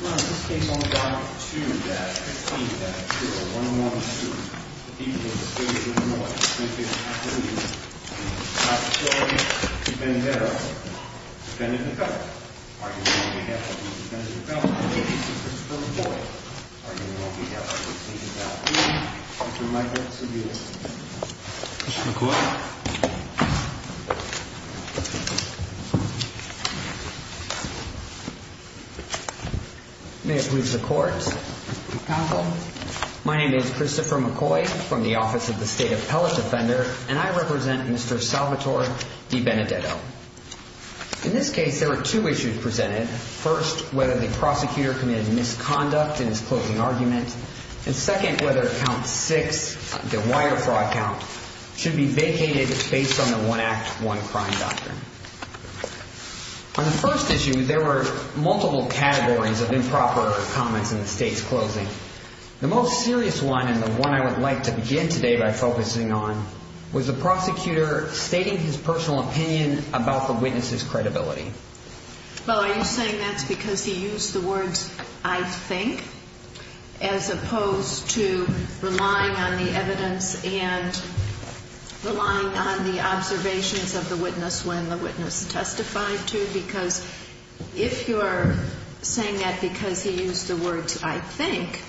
Well, in this case, on the document 2-15-0112, the people of the city of Des Moines, the San Francisco Police, and Officer DiBenedetto defended the felon. Arguably, on behalf of the defendant, the felon, the accused, Mr. McCoy, arguably, on behalf of the deceased felon, Mr. Michael Cedillo. Mr. McCoy. May it please the Court, Counsel. My name is Christopher McCoy from the Office of the State Appellate Defender, and I represent Mr. Salvatore DiBenedetto. In this case, there were two issues presented. First, whether the prosecutor committed misconduct in his closing argument, and second, whether Count 6, the wire fraud count, should be vacated based on the One Act, One Crime doctrine. On the first issue, there were multiple categories of improper comments in the State's closing. The most serious one, and the one I would like to begin today by focusing on, was the prosecutor stating his personal opinion about the witness's credibility. Well, are you saying that's because he used the words, I think, as opposed to relying on the evidence and relying on the observations of the witness when the witness testified to? Because if you're saying that because he used the words, I think,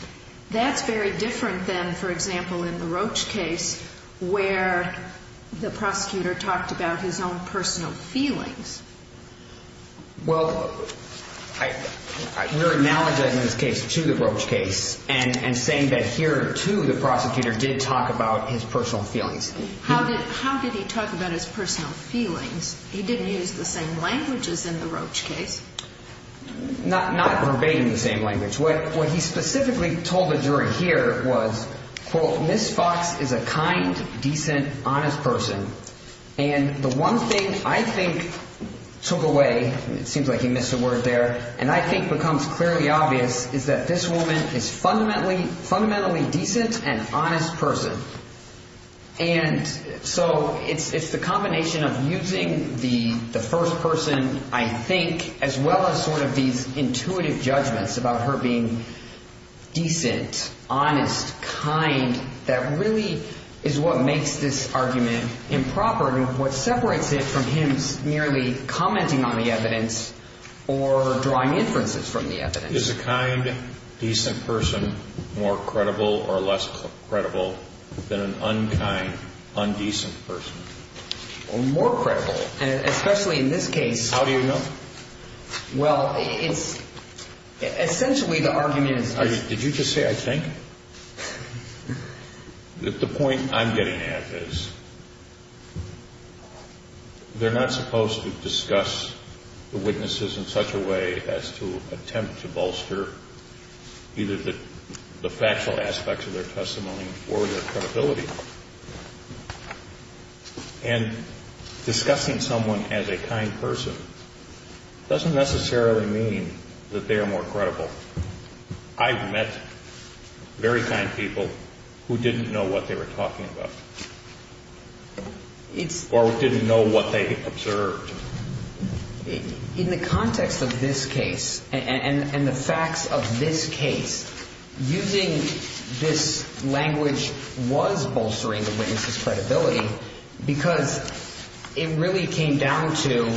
that's very different than, for example, in the Roach case, where the prosecutor talked about his own personal feelings. Well, we're acknowledging in this case, too, the Roach case, and saying that here, too, the prosecutor did talk about his personal feelings. How did he talk about his personal feelings? He didn't use the same languages in the Roach case. Not verbatim the same language. What he specifically told the jury here was, quote, Ms. Fox is a kind, decent, honest person, and the one thing I think took away, it seems like he missed a word there, and I think becomes clearly obvious, is that this woman is a fundamentally decent and honest person. And so it's the combination of using the first person, I think, as well as sort of these intuitive judgments about her being decent, honest, kind, that really is what makes this argument improper and what separates it from him merely commenting on the evidence or drawing inferences from the evidence. Is a kind, decent person more credible or less credible than an unkind, undecent person? More credible, especially in this case. How do you know? Well, it's essentially the argument is. Did you just say I think? The point I'm getting at is, they're not supposed to discuss the witnesses in such a way as to attempt to bolster either the factual aspects of their testimony or their credibility. And discussing someone as a kind person doesn't necessarily mean that they are more credible. I've met very kind people who didn't know what they were talking about or didn't know what they observed. In the context of this case and the facts of this case, using this language was bolstering the witness's credibility because it really came down to,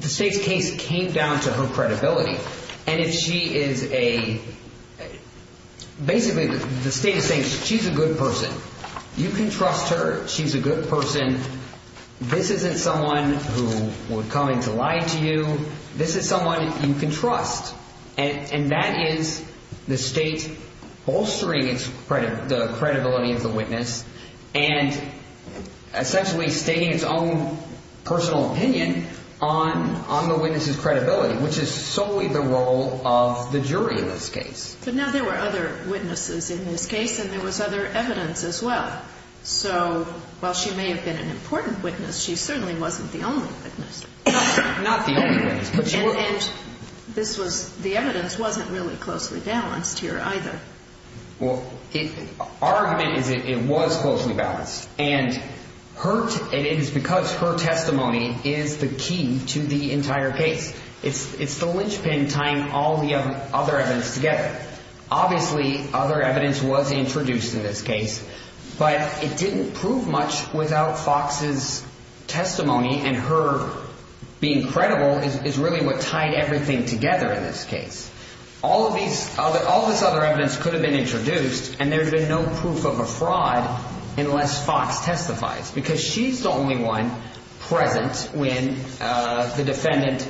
the state's case came down to her credibility. And if she is a, basically the state is saying she's a good person. You can trust her. She's a good person. This isn't someone who would come in to lie to you. This is someone you can trust. And that is the state bolstering the credibility of the witness and essentially stating its own personal opinion on the witness's credibility, which is solely the role of the jury in this case. But now there were other witnesses in this case, and there was other evidence as well. So while she may have been an important witness, she certainly wasn't the only witness. Not the only witness. And this was, the evidence wasn't really closely balanced here either. Well, our argument is it was closely balanced, and it is because her testimony is the key to the entire case. It's the linchpin tying all the other evidence together. Obviously other evidence was introduced in this case, but it didn't prove much without Fox's testimony and her being credible is really what tied everything together in this case. All this other evidence could have been introduced, and there would have been no proof of a fraud unless Fox testifies because she's the only one present when the defendant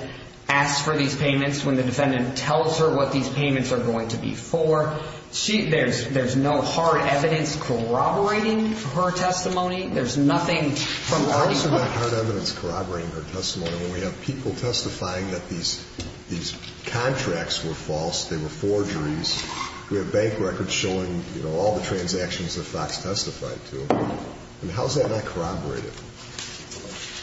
asks for these payments, when the defendant tells her what these payments are going to be for. There's no hard evidence corroborating her testimony. There's nothing from our view. How is her hard evidence corroborating her testimony when we have people testifying that these contracts were false, they were forgeries, we have bank records showing all the transactions that Fox testified to? I mean, how is that not corroborated?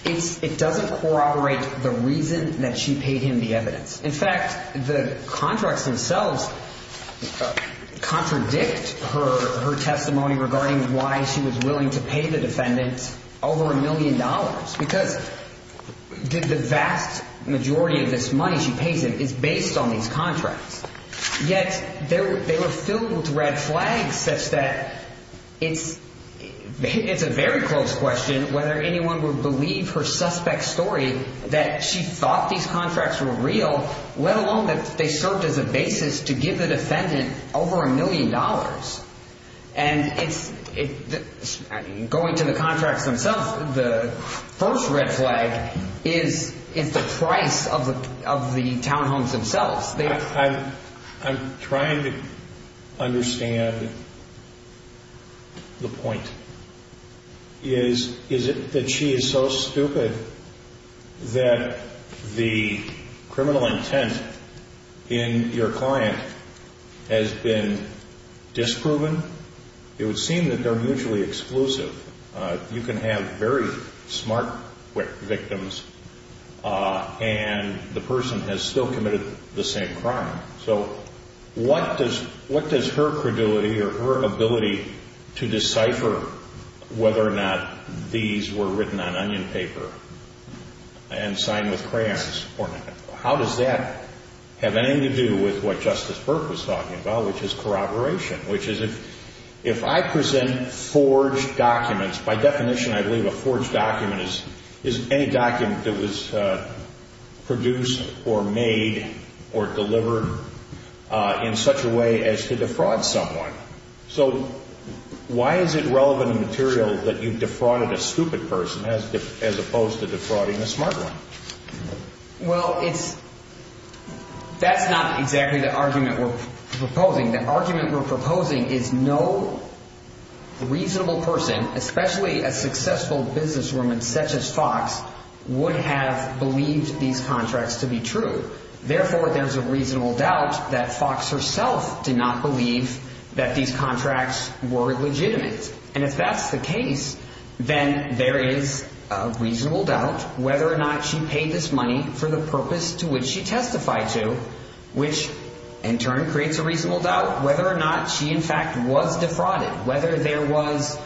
It doesn't corroborate the reason that she paid him the evidence. In fact, the contracts themselves contradict her testimony regarding why she was willing to pay the defendant over a million dollars because the vast majority of this money she pays him is based on these contracts. Yet they were filled with red flags such that it's a very close question whether anyone would believe her suspect's story that she thought these contracts were real, let alone that they served as a basis to give the defendant over a million dollars. And going to the contracts themselves, the first red flag is the price of the townhomes themselves. I'm trying to understand the point. Is it that she is so stupid that the criminal intent in your client has been disproven? It would seem that they're mutually exclusive. You can have very smart victims and the person has still committed the same crime. So what does her credulity or her ability to decipher whether or not these were written on onion paper and signed with crayons, how does that have anything to do with what Justice Burke was talking about, which is corroboration, which is if I present forged documents, by definition I believe a forged document is any document that was produced or made or delivered in such a way as to defraud someone. So why is it relevant material that you've defrauded a stupid person as opposed to defrauding a smart one? Well, that's not exactly the argument we're proposing. The argument we're proposing is no reasonable person, especially a successful businesswoman such as Fox, would have believed these contracts to be true. Therefore, there's a reasonable doubt that Fox herself did not believe that these contracts were legitimate. And if that's the case, then there is a reasonable doubt whether or not she paid this money for the purpose to which she testified to, which in turn creates a reasonable doubt whether or not she in fact was defrauded, whether there was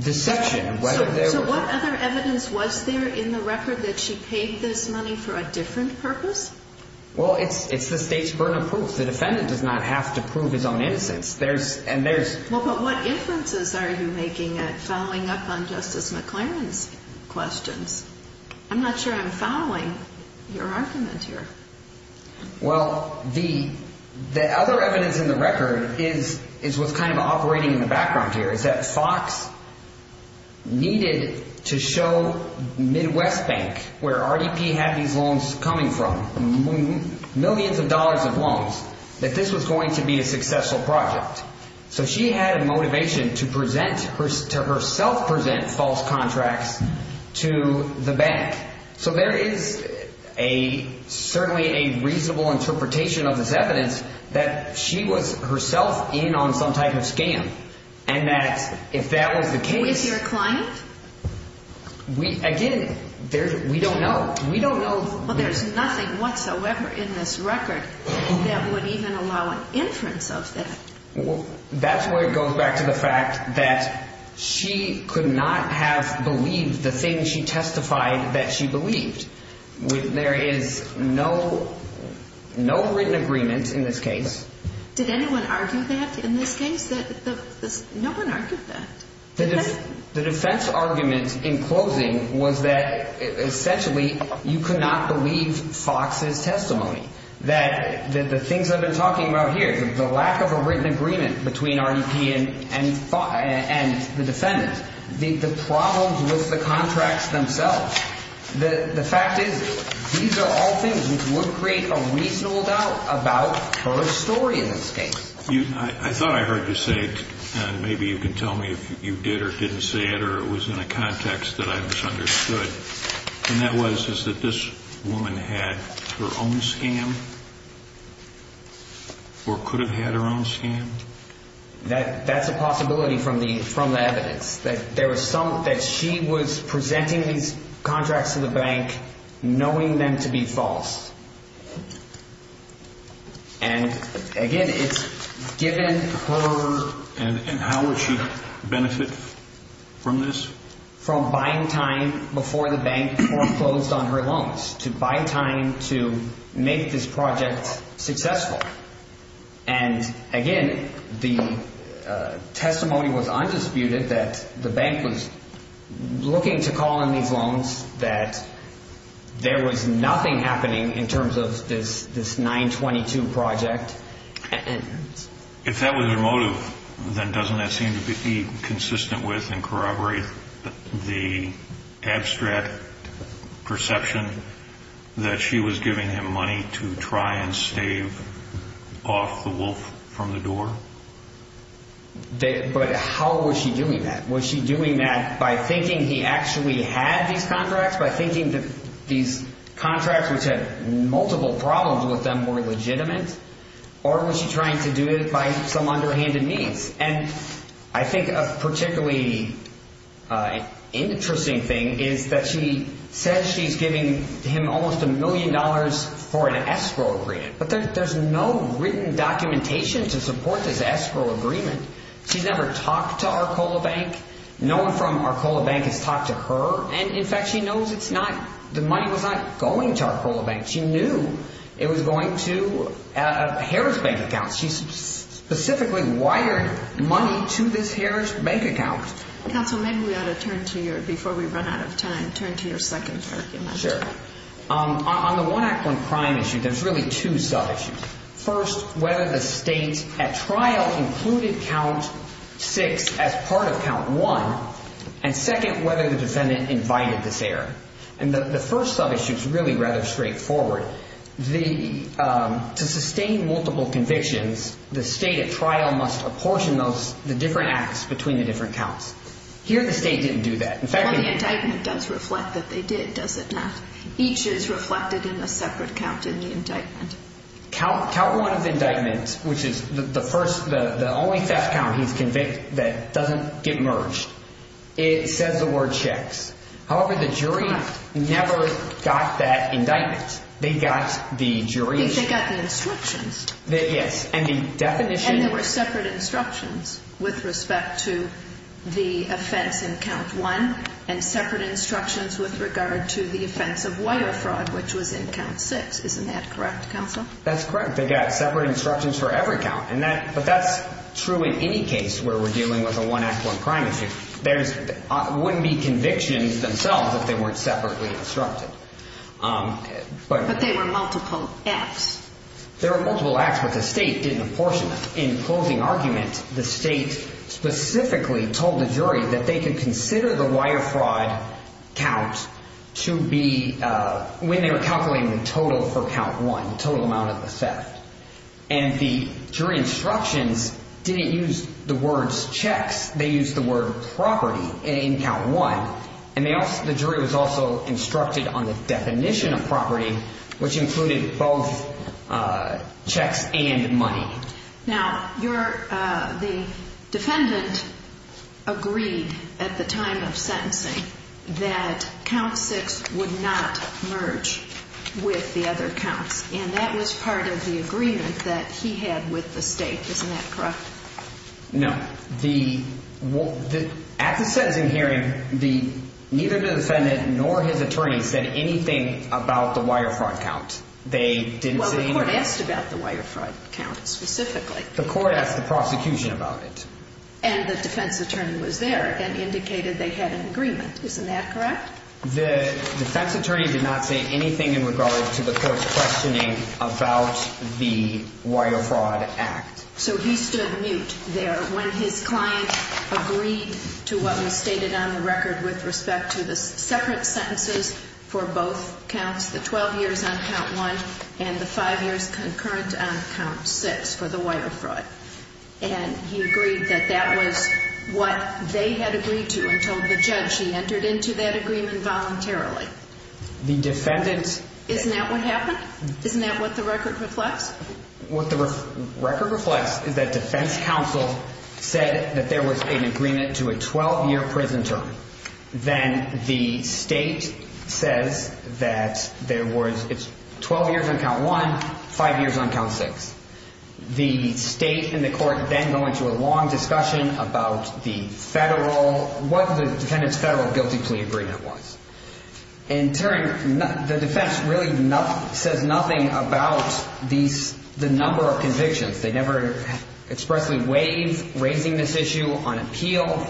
deception. So what other evidence was there in the record that she paid this money for a different purpose? Well, it's the State's burden of proof. The defendant does not have to prove his own innocence. Well, but what inferences are you making following up on Justice McLaren's questions? I'm not sure I'm following your argument here. Well, the other evidence in the record is what's kind of operating in the background here, is that Fox needed to show Midwest Bank, where RDP had these loans coming from, millions of dollars of loans, that this was going to be a successful project. So she had a motivation to present, to herself present, false contracts to the bank. So there is certainly a reasonable interpretation of this evidence that she was herself in on some type of scam, and that if that was the case... Who is your client? Again, we don't know. We don't know. Well, there's nothing whatsoever in this record that would even allow an inference of that. That's where it goes back to the fact that she could not have believed the thing she testified that she believed. There is no written agreement in this case. Did anyone argue that in this case? No one argued that. The defense argument in closing was that essentially you could not believe Fox's testimony, that the things I've been talking about here, the lack of a written agreement between RDP and the defendants, the problems with the contracts themselves, the fact is these are all things which would create a reasonable doubt about her story in this case. I thought I heard you say, and maybe you can tell me if you did or didn't say it, or it was in a context that I misunderstood, and that was that this woman had her own scam or could have had her own scam? That's a possibility from the evidence, that she was presenting these contracts to the bank knowing them to be false. And, again, it's given her... And how would she benefit from this? From buying time before the bank closed on her loans, to buy time to make this project successful. And, again, the testimony was undisputed that the bank was looking to call in these loans, that there was nothing happening in terms of this 922 project. If that was her motive, then doesn't that seem to be consistent with and corroborate the abstract perception that she was giving him money to try and stave off the wolf from the door? But how was she doing that? Was she doing that by thinking he actually had these contracts, by thinking that these contracts, which had multiple problems with them, were legitimate? Or was she trying to do it by some underhanded means? And I think a particularly interesting thing is that she says she's giving him almost a million dollars for an escrow agreement, but there's no written documentation to support this escrow agreement. She's never talked to Arcola Bank. No one from Arcola Bank has talked to her. And, in fact, she knows the money was not going to Arcola Bank. She knew it was going to a Harris Bank account. She specifically wired money to this Harris Bank account. Counsel, maybe we ought to turn to your... Before we run out of time, turn to your second argument. Sure. On the one-act-one-crime issue, there's really two sub-issues. First, whether the state at trial included count six as part of count one, and second, whether the defendant invited this error. And the first sub-issue is really rather straightforward. To sustain multiple convictions, the state at trial must apportion the different acts between the different counts. Here the state didn't do that. Well, the indictment does reflect that they did, does it not? Each is reflected in a separate count in the indictment. Count one of indictments, which is the only theft count he's convicted that doesn't get merged, it says the word checks. However, the jury never got that indictment. They got the jury's... They got the instructions. Yes, and the definition... And there were separate instructions with respect to the offense in count one and separate instructions with regard to the offense of wire fraud, which was in count six. Isn't that correct, counsel? That's correct. They got separate instructions for every count. But that's true in any case where we're dealing with a one-act, one-crime issue. There wouldn't be convictions themselves if they weren't separately instructed. But they were multiple acts. There were multiple acts, but the state didn't apportion them. In closing argument, the state specifically told the jury that they could consider the wire fraud count to be when they were calculating the total for count one, the total amount of the theft. And the jury instructions didn't use the words checks. They used the word property in count one. And the jury was also instructed on the definition of property, which included both checks and money. Now, the defendant agreed at the time of sentencing that count six would not merge with the other counts, and that was part of the agreement that he had with the state. Isn't that correct? No. At the sentencing hearing, neither the defendant nor his attorney said anything about the wire fraud count. Well, the court asked about the wire fraud count specifically. The court asked the prosecution about it. And the defense attorney was there and indicated they had an agreement. Isn't that correct? The defense attorney did not say anything in regard to the court's questioning about the wire fraud act. So he stood mute there when his client agreed to what was stated on the record with respect to the separate sentences for both counts, the 12 years on count one and the five years concurrent on count six for the wire fraud. And he agreed that that was what they had agreed to until the judge. He entered into that agreement voluntarily. Isn't that what happened? Isn't that what the record reflects? What the record reflects is that defense counsel said that there was an agreement to a 12-year prison term. Then the state says that there was 12 years on count one, five years on count six. The state and the court then go into a long discussion about the federal, what the defendant's federal guilty plea agreement was. In turn, the defense really says nothing about the number of convictions. They never expressly waive raising this issue on appeal.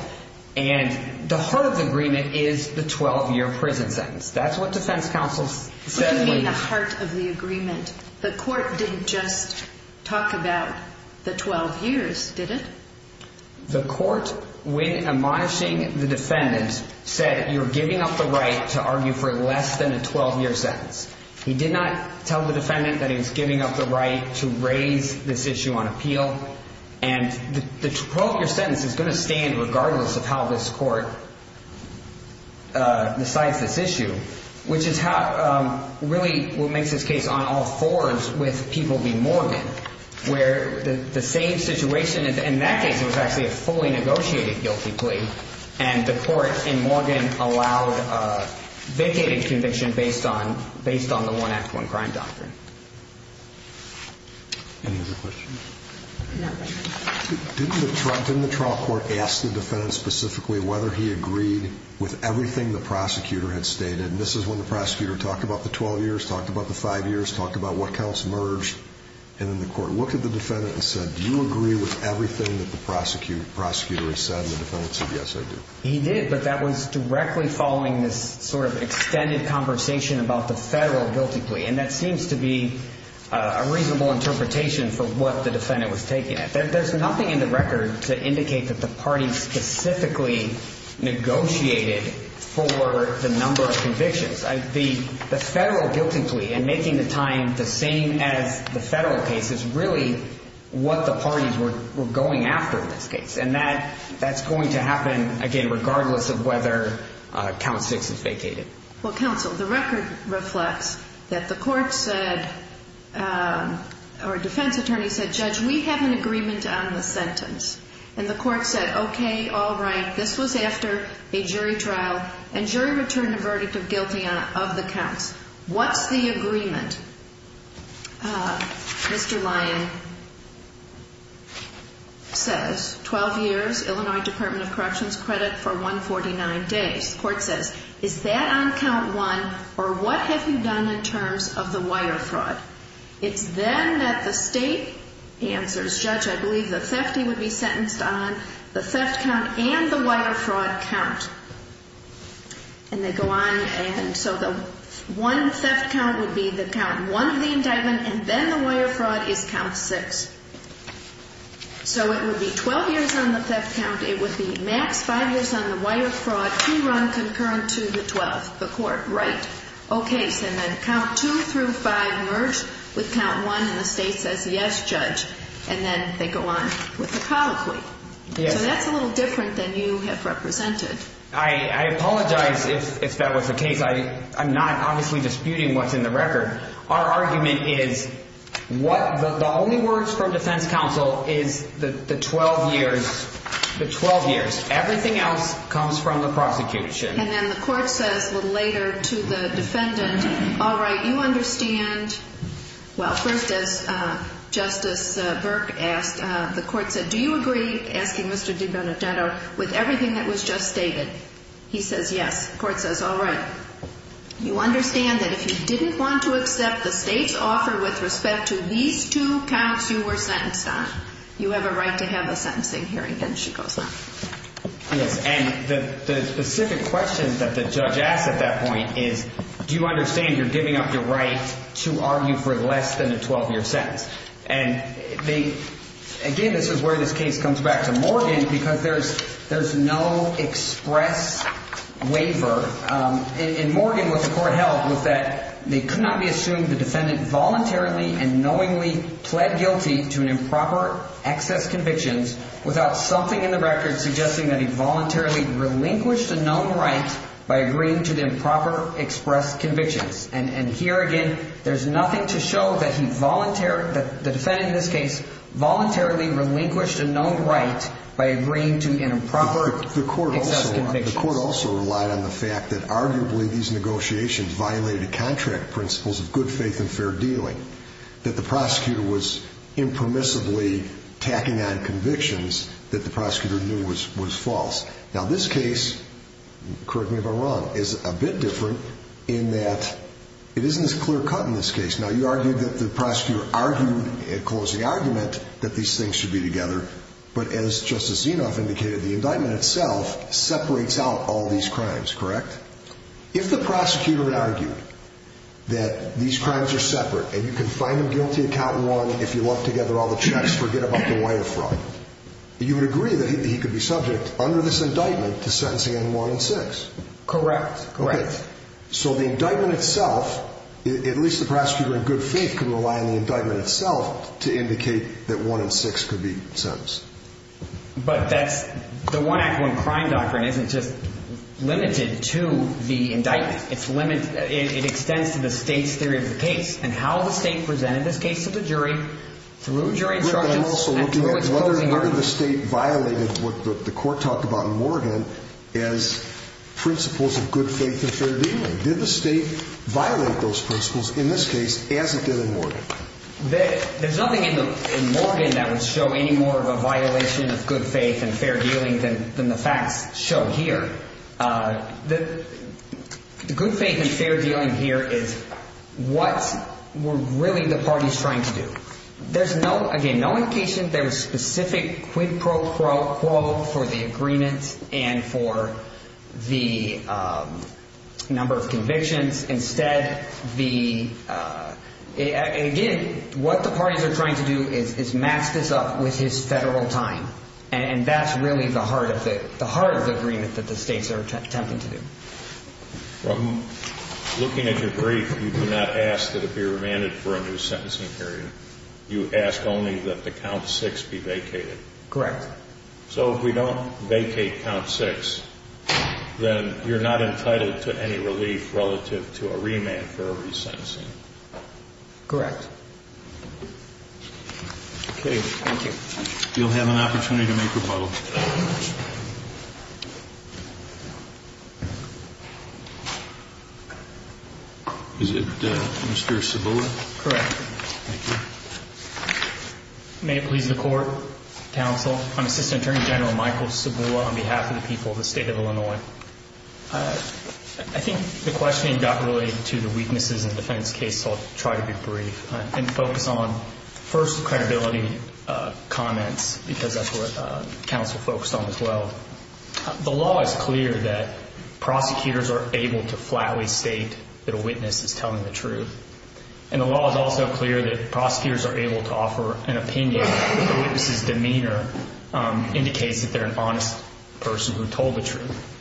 And the heart of the agreement is the 12-year prison sentence. That's what defense counsel said. What do you mean the heart of the agreement? The court didn't just talk about the 12 years, did it? The court, when admonishing the defendant, said you're giving up the right to argue for less than a 12-year sentence. He did not tell the defendant that he was giving up the right to raise this issue on appeal. And the 12-year sentence is going to stand regardless of how this court decides this issue, which is really what makes this case on all fours with people being morbid, where the same situation in that case was actually a fully negotiated guilty plea. And the court in Morgan allowed a vacated conviction based on the one-act-one crime doctrine. Any other questions? No questions. Didn't the trial court ask the defendant specifically whether he agreed with everything the prosecutor had stated? And this is when the prosecutor talked about the 12 years, talked about the five years, talked about what counts merged, and then the court looked at the defendant and said, do you agree with everything that the prosecutor has said? And the defendant said, yes, I do. He did, but that was directly following this sort of extended conversation about the federal guilty plea, and that seems to be a reasonable interpretation for what the defendant was taking. There's nothing in the record to indicate that the party specifically negotiated for the number of convictions. The federal guilty plea and making the time the same as the federal case is really what the parties were going after in this case, and that's going to happen, again, regardless of whether count six is vacated. Well, counsel, the record reflects that the court said, or defense attorney said, judge, we have an agreement on the sentence. And the court said, okay, all right, this was after a jury trial, and jury returned a verdict of guilty of the counts. What's the agreement? Mr. Lyon says 12 years, Illinois Department of Corrections credit for 149 days. The court says, is that on count one, or what have you done in terms of the wire fraud? It's then that the state answers, judge, I believe the thefty would be sentenced on, the theft count and the wire fraud count. And they go on, and so the one theft count would be the count one of the indictment, and then the wire fraud is count six. So it would be 12 years on the theft count. It would be max five years on the wire fraud pre-run concurrent to the 12th, the court. Right. Okay. So then count two through five merged with count one, and the state says, yes, judge. And then they go on with the colloquy. So that's a little different than you have represented. I apologize if that was the case. I'm not obviously disputing what's in the record. Our argument is the only words from defense counsel is the 12 years. The 12 years. Everything else comes from the prosecution. And then the court says a little later to the defendant, all right, you understand. Well, first, as Justice Burke asked, the court said, do you agree, asking Mr. DiBenedetto, with everything that was just stated? He says, yes. The court says, all right. You understand that if you didn't want to accept the state's offer with respect to these two counts you were sentenced on, you have a right to have a sentencing hearing. Then she goes on. Yes, and the specific question that the judge asked at that point is, do you understand you're giving up your right to argue for less than a 12-year sentence? And again, this is where this case comes back to Morgan because there's no express waiver. And Morgan, what the court held was that it could not be assumed the defendant voluntarily and knowingly pled guilty to improper excess convictions without something in the record suggesting that he voluntarily relinquished a known right by agreeing to the improper expressed convictions. And here again, there's nothing to show that the defendant in this case voluntarily relinquished a known right by agreeing to improper expressed convictions. But the court also relied on the fact that arguably these negotiations violated contract principles of good faith and fair dealing, that the prosecutor was impermissibly tacking on convictions that the prosecutor knew was false. Now, this case, correct me if I'm wrong, is a bit different in that it isn't as clear cut in this case. Now, you argued that the prosecutor argued at closing argument that these things should be together, but as Justice Zinoff indicated, the indictment itself separates out all these crimes, correct? If the prosecutor argued that these crimes are separate and you can find them guilty of cotton wrong if you look together all the checks, forget about the way of fraud, you would agree that he could be subject under this indictment to sentencing in one and six? Correct. Okay. So the indictment itself, at least the prosecutor in good faith can rely on the indictment itself to indicate that one and six could be sentenced. But that's the one act, one crime doctrine isn't just limited to the indictment. It extends to the state's theory of the case and how the state presented this case to the jury through jury instructions and through its closing argument. But I'm also looking at whether the state violated what the court talked about in Morgan as principles of good faith and fair dealing. Did the state violate those principles in this case as it did in Morgan? There's nothing in Morgan that would show any more of a violation of good faith and fair dealing than the facts show here. The good faith and fair dealing here is what were really the parties trying to do. There's, again, no indication. There was specific quid pro quo for the agreement and for the number of convictions. Instead, again, what the parties are trying to do is match this up with his federal time, and that's really the heart of the agreement that the states are attempting to do. Looking at your brief, you do not ask that it be remanded for a new sentencing period. You ask only that the count six be vacated. Correct. So if we don't vacate count six, then you're not entitled to any relief relative to a remand for a resentencing. Correct. Okay. Thank you. You'll have an opportunity to make your vote. Is it Mr. Cibula? Correct. Thank you. May it please the Court, Counsel, I'm Assistant Attorney General Michael Cibula on behalf of the people of the state of Illinois. I think the questioning got related to the weaknesses in the defense case, so I'll try to be brief and focus on first credibility comments because that's what counsel focused on as well. The law is clear that prosecutors are able to flatly state that a witness is telling the truth, and the law is also clear that prosecutors are able to offer an opinion if the witness's demeanor indicates that they're an honest person who told the truth.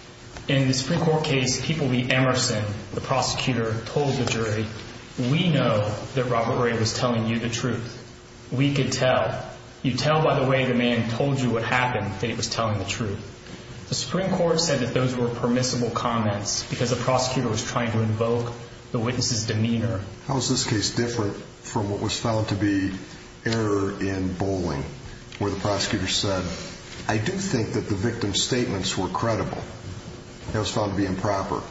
In the Supreme Court case, People v. Emerson, the prosecutor told the jury, we know that Robert Ray was telling you the truth. We could tell. You tell by the way the man told you what happened that he was telling the truth. The Supreme Court said that those were permissible comments because the prosecutor was trying to invoke the witness's demeanor. How is this case different from what was found to be error in bowling where the prosecutor said, I do think that the victim's statements were credible. It was found to be improper.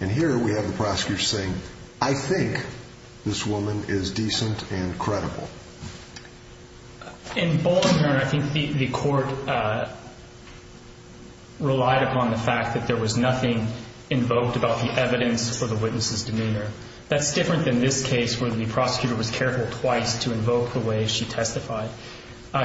And here we have the prosecutor saying, I think this woman is decent and credible. In bowling, I think the court relied upon the fact that there was nothing invoked about the evidence for the witness's demeanor. That's different than this case where the prosecutor was careful twice to invoke the way she testified.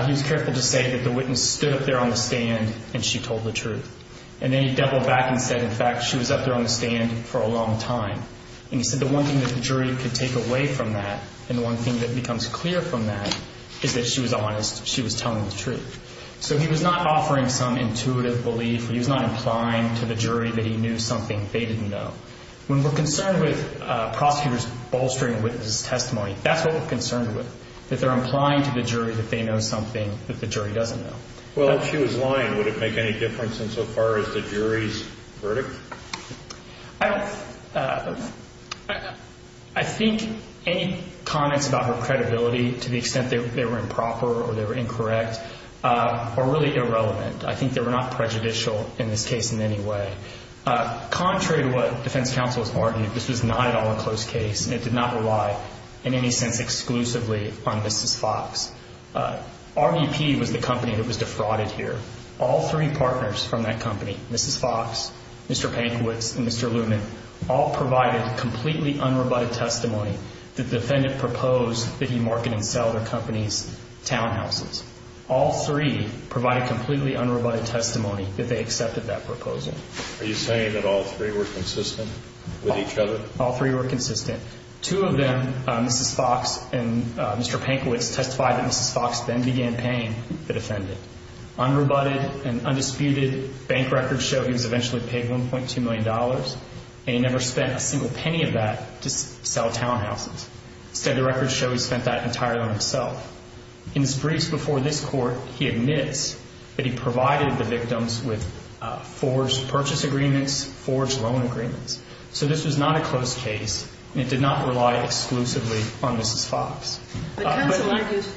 He was careful to say that the witness stood up there on the stand and she told the truth. And then he doubled back and said, in fact, she was up there on the stand for a long time. And he said the one thing that the jury could take away from that and the one thing that becomes clear from that is that she was honest. She was telling the truth. So he was not offering some intuitive belief. He was not implying to the jury that he knew something they didn't know. When we're concerned with prosecutors bolstering a witness's testimony, that's what we're concerned with, that they're implying to the jury that they know something that the jury doesn't know. Well, if she was lying, would it make any difference insofar as the jury's verdict? I think any comments about her credibility to the extent they were improper or they were incorrect are really irrelevant. I think they were not prejudicial in this case in any way. Contrary to what defense counsel has argued, this was not at all a close case, and it did not rely in any sense exclusively on Mrs. Fox. RDP was the company that was defrauded here. All three partners from that company, Mrs. Fox, Mr. Pankowitz, and Mr. Lumen, all provided completely unrobutted testimony that the defendant proposed that he market and sell their company's townhouses. All three provided completely unrobutted testimony that they accepted that proposal. Are you saying that all three were consistent with each other? All three were consistent. Two of them, Mrs. Fox and Mr. Pankowitz, testified that Mrs. Fox then began paying the defendant. Unrobutted and undisputed, bank records show he was eventually paid $1.2 million, and he never spent a single penny of that to sell townhouses. Instead, the records show he spent that entirely on himself. In his briefs before this court, he admits that he provided the victims with forged purchase agreements, forged loan agreements. So this was not a close case, and it did not rely exclusively on Mrs. Fox. But counsel argues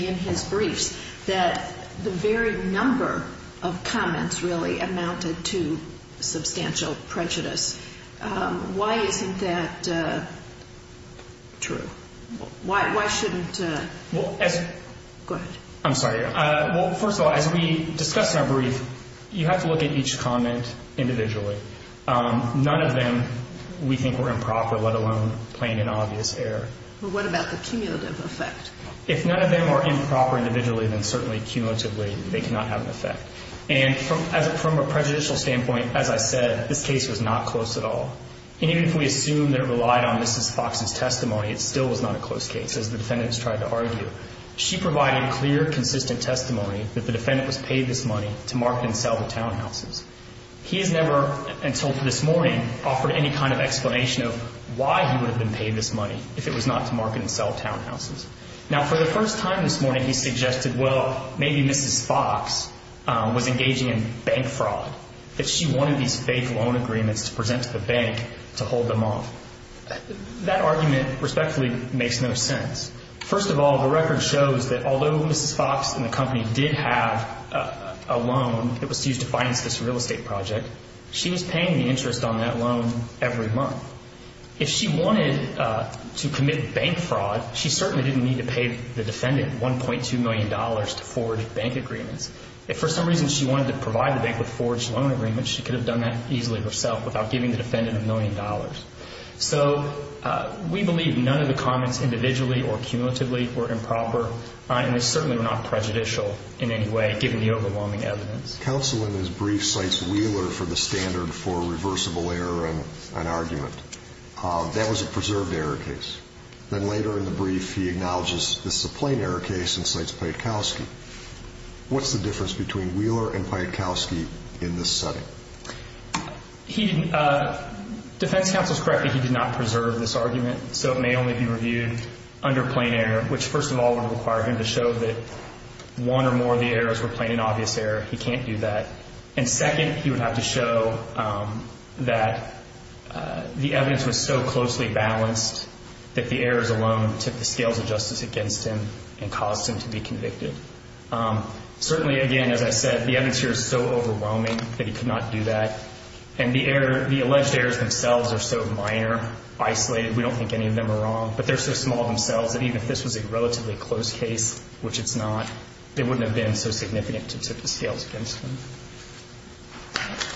in his briefs that the very number of comments really amounted to substantial prejudice. Why isn't that true? Why shouldn't? Go ahead. I'm sorry. Well, first of all, as we discussed in our brief, you have to look at each comment individually. None of them we think were improper, let alone plain and obvious error. Well, what about the cumulative effect? If none of them were improper individually, then certainly cumulatively they cannot have an effect. And from a prejudicial standpoint, as I said, this case was not close at all. And even if we assume that it relied on Mrs. Fox's testimony, it still was not a close case, as the defendants tried to argue. She provided clear, consistent testimony that the defendant was paid this money to market and sell the townhouses. He has never, until this morning, offered any kind of explanation of why he would have been paid this money if it was not to market and sell townhouses. Now, for the first time this morning, he suggested, well, maybe Mrs. Fox was engaging in bank fraud, if she wanted these fake loan agreements to present to the bank to hold them off. That argument respectfully makes no sense. First of all, the record shows that although Mrs. Fox and the company did have a loan that was used to finance this real estate project, she was paying the interest on that loan every month. If she wanted to commit bank fraud, she certainly didn't need to pay the defendant $1.2 million to forge bank agreements. If for some reason she wanted to provide the bank with forged loan agreements, she could have done that easily herself without giving the defendant $1 million. So we believe none of the comments individually or cumulatively were improper, and they certainly were not prejudicial in any way, given the overwhelming evidence. Counsel, in his brief, cites Wheeler for the standard for reversible error in an argument. That was a preserved error case. Then later in the brief, he acknowledges this is a plain error case and cites Paikowski. What's the difference between Wheeler and Paikowski in this setting? Defense counsel is correct that he did not preserve this argument, so it may only be reviewed under plain error, which first of all would require him to show that one or more of the errors were plain and obvious error. He can't do that. And second, he would have to show that the evidence was so closely balanced that the errors alone took the scales of justice against him and caused him to be convicted. Certainly, again, as I said, the evidence here is so overwhelming that he could not do that. And the alleged errors themselves are so minor, isolated, we don't think any of them are wrong, but they're so small themselves that even if this was a relatively close case, which it's not, they wouldn't have been so significant to tip the scales against him.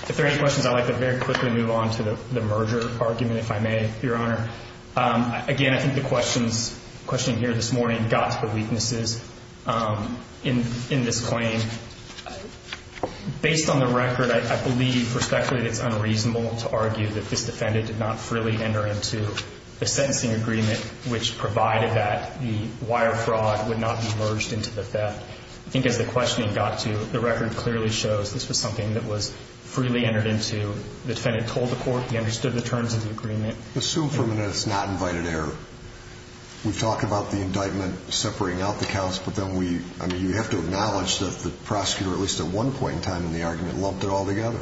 If there are any questions, I'd like to very quickly move on to the merger argument, if I may, Your Honor. Again, I think the question here this morning got to the weaknesses in this claim. Based on the record, I believe, respectfully, it's unreasonable to argue that this defendant did not freely enter into the sentencing agreement, which provided that the wire fraud would not be merged into the theft. I think as the questioning got to, the record clearly shows this was something that was freely entered into. The defendant told the court he understood the terms of the agreement. Assume for a minute it's not invited error. We've talked about the indictment separating out the counts, but then we, I mean, you have to acknowledge that the prosecutor at least at one point in time in the argument lumped it all together.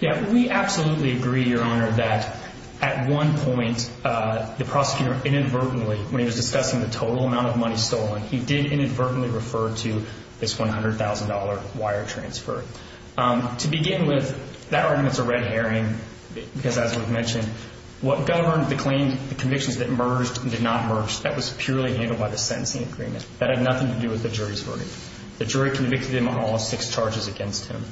Yeah, we absolutely agree, Your Honor, that at one point, the prosecutor inadvertently, when he was discussing the total amount of money stolen, he did inadvertently refer to this $100,000 wire transfer. To begin with, that argument's a red herring because, as we've mentioned, what governed the claim, the convictions that merged did not merge. That was purely handled by the sentencing agreement. That had nothing to do with the jury's verdict. The jury convicted him of all six charges against him.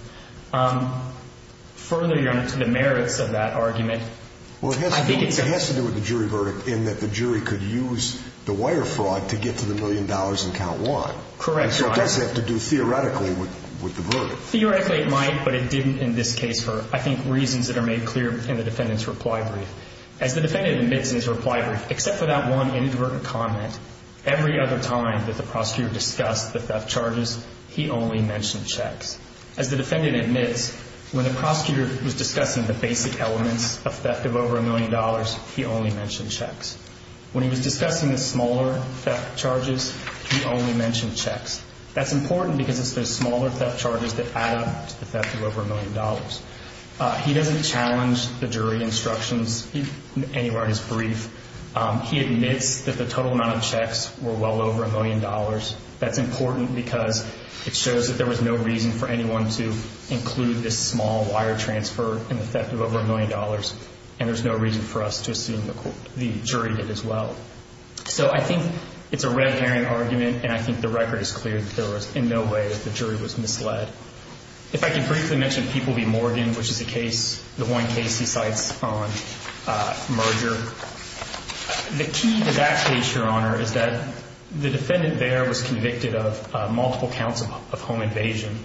Further, Your Honor, to the merits of that argument, I think it's a... Well, I think it has to do with the jury verdict in that the jury could use the wire fraud to get to the million dollars in count one. Correct, Your Honor. So it does have to do theoretically with the verdict. Theoretically, it might, but it didn't in this case for, I think, reasons that are made clear in the defendant's reply brief. As the defendant admits in his reply brief, except for that one inadvertent comment, every other time that the prosecutor discussed the theft charges, he only mentioned checks. As the defendant admits, when the prosecutor was discussing the basic elements of theft of over a million dollars, he only mentioned checks. When he was discussing the smaller theft charges, he only mentioned checks. That's important because it's the smaller theft charges that add up to the theft of over a million dollars. He doesn't challenge the jury instructions anywhere in his brief. He admits that the total amount of checks were well over a million dollars. That's important because it shows that there was no reason for anyone to include this small wire transfer in the theft of over a million dollars, and there's no reason for us to assume the jury did as well. So I think it's a red herring argument, and I think the record is clear that there was in no way that the jury was misled. If I could briefly mention People v. Morgan, which is the case, the one case he cites on merger, the key to that case, Your Honor, is that the defendant there was convicted of multiple counts of home invasion,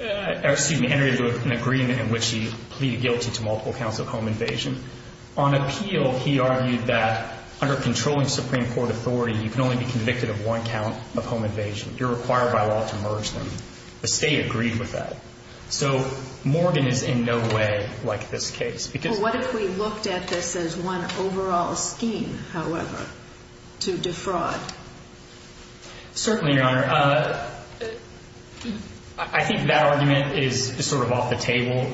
or excuse me, entered into an agreement in which he pleaded guilty to multiple counts of home invasion. On appeal, he argued that under controlling Supreme Court authority, you can only be convicted of one count of home invasion. You're required by law to merge them. The State agreed with that. So Morgan is in no way like this case. Well, what if we looked at this as one overall scheme, however, to defraud? Certainly, Your Honor. I think that argument is sort of off the table.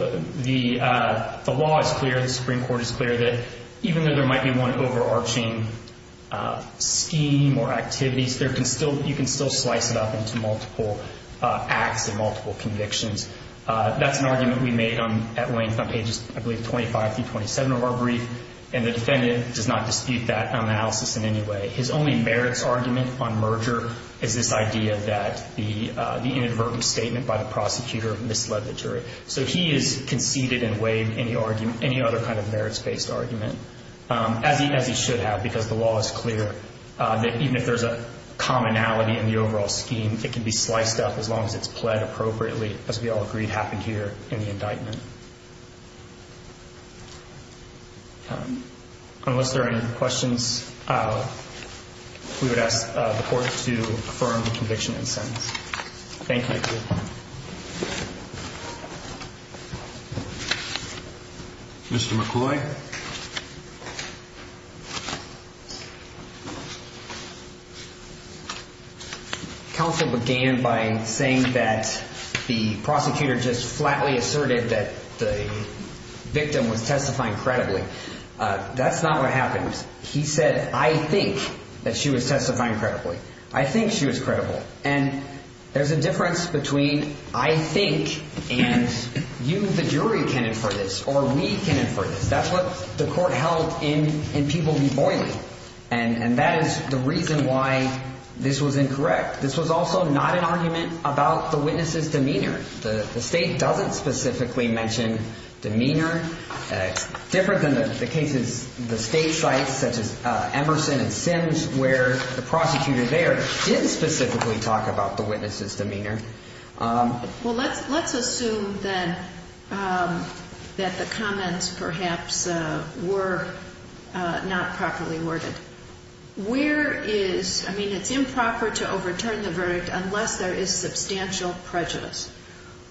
The law is clear. The Supreme Court is clear that even though there might be one overarching scheme or activities, you can still slice it up into multiple acts and multiple convictions. That's an argument we made at length on pages, I believe, 25 through 27 of our brief, and the defendant does not dispute that analysis in any way. His only merits argument on merger is this idea that the inadvertent statement by the prosecutor misled the jury. So he has conceded and waived any other kind of merits-based argument, as he should have, because the law is clear that even if there's a commonality in the overall scheme, it can be sliced up as long as it's pled appropriately, as we all agreed happened here in the indictment. Thank you. Unless there are any questions, we would ask the court to affirm the conviction and sentence. Thank you. Mr. McCoy. Thank you. Counsel began by saying that the prosecutor just flatly asserted that the victim was testifying credibly. That's not what happened. He said, I think that she was testifying credibly. I think she was credible. And there's a difference between I think and you, the jury, can infer this, or we can infer this. That's what the court held in People v. Boyle. And that is the reason why this was incorrect. This was also not an argument about the witness's demeanor. The state doesn't specifically mention demeanor. It's different than the cases the state cites, such as Emerson and Sims, where the prosecutor there did specifically talk about the witness's demeanor. Well, let's assume then that the comments perhaps were not properly worded. Where is ‑‑ I mean, it's improper to overturn the verdict unless there is substantial prejudice.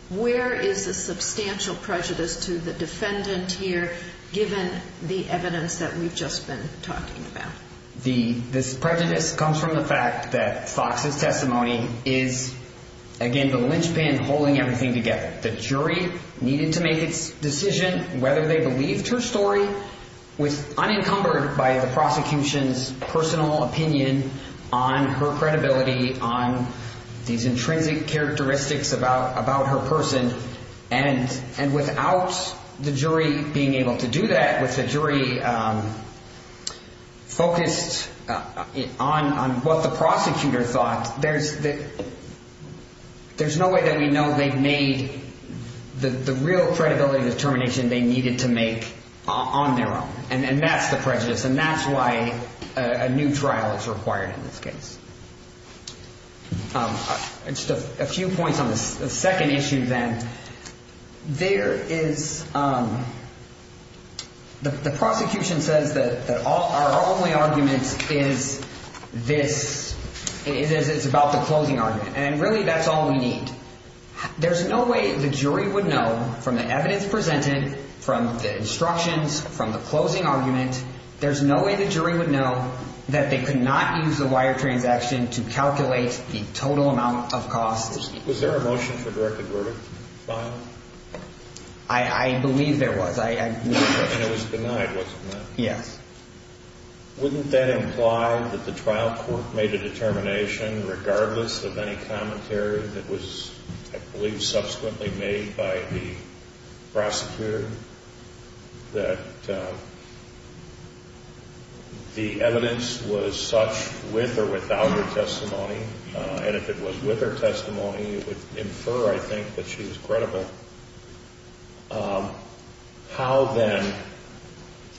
Where is the substantial prejudice to the defendant here given the evidence that we've just been talking about? This prejudice comes from the fact that Fox's testimony is, again, the linchpin holding everything together. The jury needed to make its decision whether they believed her story was unencumbered by the prosecution's personal opinion on her credibility, on these intrinsic characteristics about her person. And without the jury being able to do that, with the jury focused on what the prosecutor thought, there's no way that we know they've made the real credibility determination they needed to make on their own. And that's the prejudice. And that's why a new trial is required in this case. Just a few points on the second issue then. There is ‑‑ the prosecution says that our only argument is this. It's about the closing argument. And really, that's all we need. There's no way the jury would know from the evidence presented, from the instructions, from the closing argument, there's no way the jury would know that they could not use the wire transaction to calculate the total amount of costs. Was there a motion for a directed verdict filed? I believe there was. And it was denied, wasn't it? Yes. Wouldn't that imply that the trial court made a determination, regardless of any commentary that was, I believe, subsequently made by the prosecutor, that the evidence was such with or without her testimony? And if it was with her testimony, it would infer, I think, that she was credible. How, then,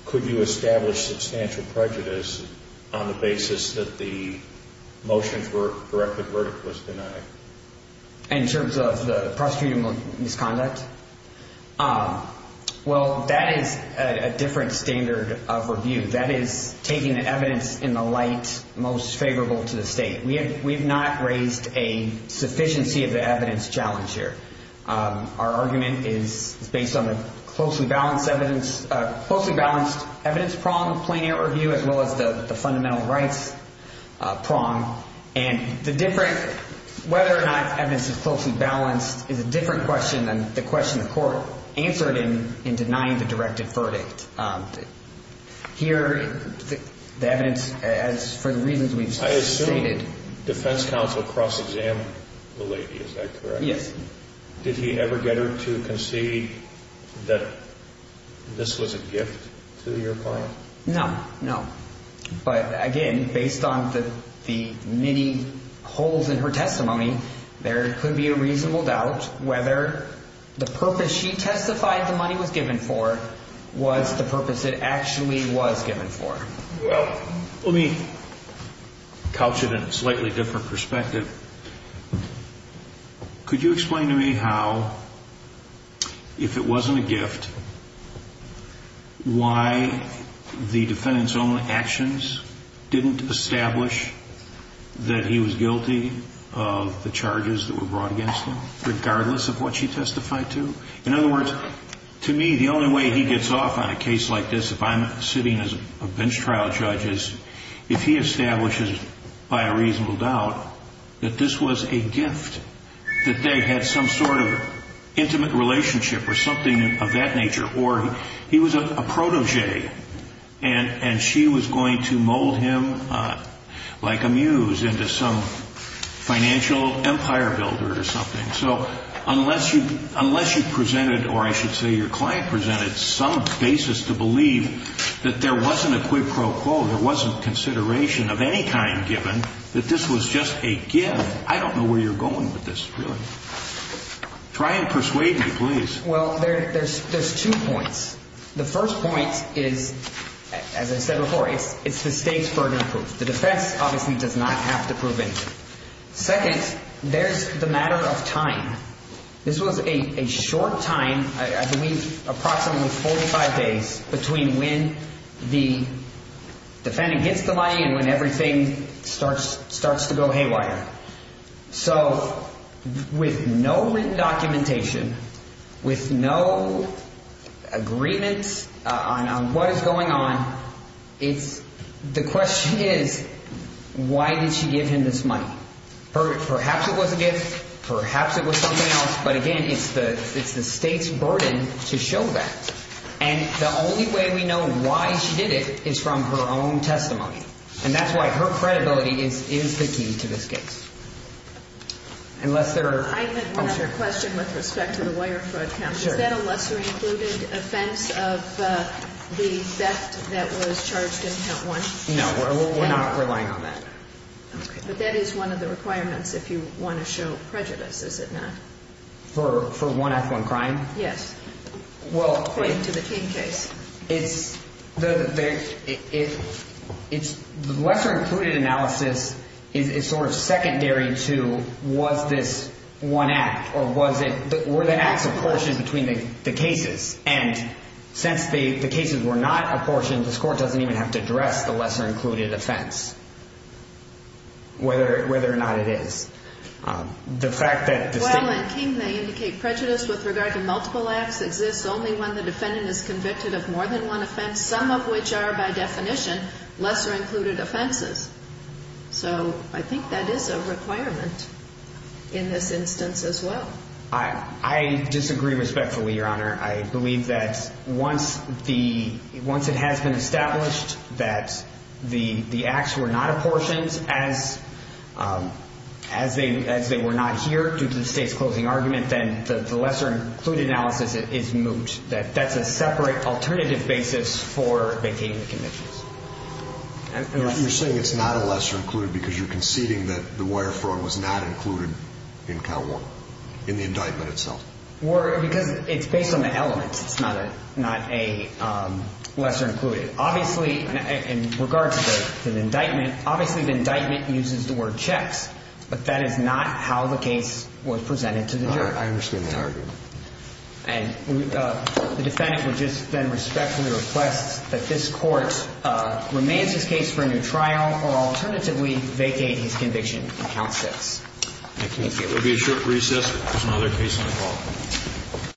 could you establish substantial prejudice on the basis that the motion for a directed verdict was denied? In terms of the prosecutorial misconduct? Well, that is a different standard of review. That is taking the evidence in the light most favorable to the state. We have not raised a sufficiency of the evidence challenge here. Our argument is based on the closely balanced evidence prong, plain air review, as well as the fundamental rights prong. And the different, whether or not evidence is closely balanced, is a different question than the question the court answered in denying the directed verdict. Here, the evidence, as for the reasons we've stated. I assume defense counsel cross-examined the lady. Is that correct? Yes. Did he ever get her to concede that this was a gift to your client? No, no. But, again, based on the many holes in her testimony, there could be a reasonable doubt whether the purpose she testified the money was given for was the purpose it actually was given for. Well, let me couch it in a slightly different perspective. Could you explain to me how, if it wasn't a gift, why the defendant's own actions didn't establish that he was guilty of the charges that were brought against him, regardless of what she testified to? In other words, to me, the only way he gets off on a case like this, if I'm sitting as a bench trial judge, is if he establishes, by a reasonable doubt, that this was a gift, that they had some sort of intimate relationship or something of that nature. Or he was a protégé, and she was going to mold him like a muse into some financial empire builder or something. So unless you presented, or I should say your client presented, some basis to believe that there wasn't a quid pro quo, there wasn't consideration of any kind given, that this was just a gift, I don't know where you're going with this, really. Try and persuade me, please. Well, there's two points. The first point is, as I said before, it's the state's burden of proof. The defense obviously does not have to prove anything. Second, there's the matter of time. This was a short time, I believe approximately 45 days, between when the defendant gets the money and when everything starts to go haywire. So with no written documentation, with no agreements on what is going on, the question is, why did she give him this money? Perhaps it was a gift. Perhaps it was something else. But again, it's the state's burden to show that. And the only way we know why she did it is from her own testimony. And that's why her credibility is the key to this case. Unless there are... I have another question with respect to the wire fraud count. Sure. Is that a lesser included offense of the theft that was charged in count one? No, we're not relying on that. Okay. But that is one of the requirements if you want to show prejudice, is it not? For one act, one crime? Yes. According to the King case. The lesser included analysis is sort of secondary to was this one act or were the acts apportioned between the cases? And since the cases were not apportioned, this court doesn't even have to address the lesser included offense, whether or not it is. Well, in King, they indicate prejudice with regard to multiple acts exists only when the defendant is convicted of more than one offense. Some of which are, by definition, lesser included offenses. So I think that is a requirement in this instance as well. I disagree respectfully, Your Honor. I believe that once it has been established that the acts were not apportioned as they were not here due to the state's closing argument, then the lesser included analysis is moot. That's a separate alternative basis for vacating the convictions. You're saying it's not a lesser included because you're conceding that the wire fraud was not included in count one, in the indictment itself? Because it's based on the elements. It's not a lesser included. Obviously, in regards to the indictment, obviously the indictment uses the word checks, but that is not how the case was presented to the jury. I understand the argument. And the defendant would just then respectfully request that this court remains his case for a new trial or alternatively vacate his conviction in count six. Thank you. There will be a short recess. There's another case on the call.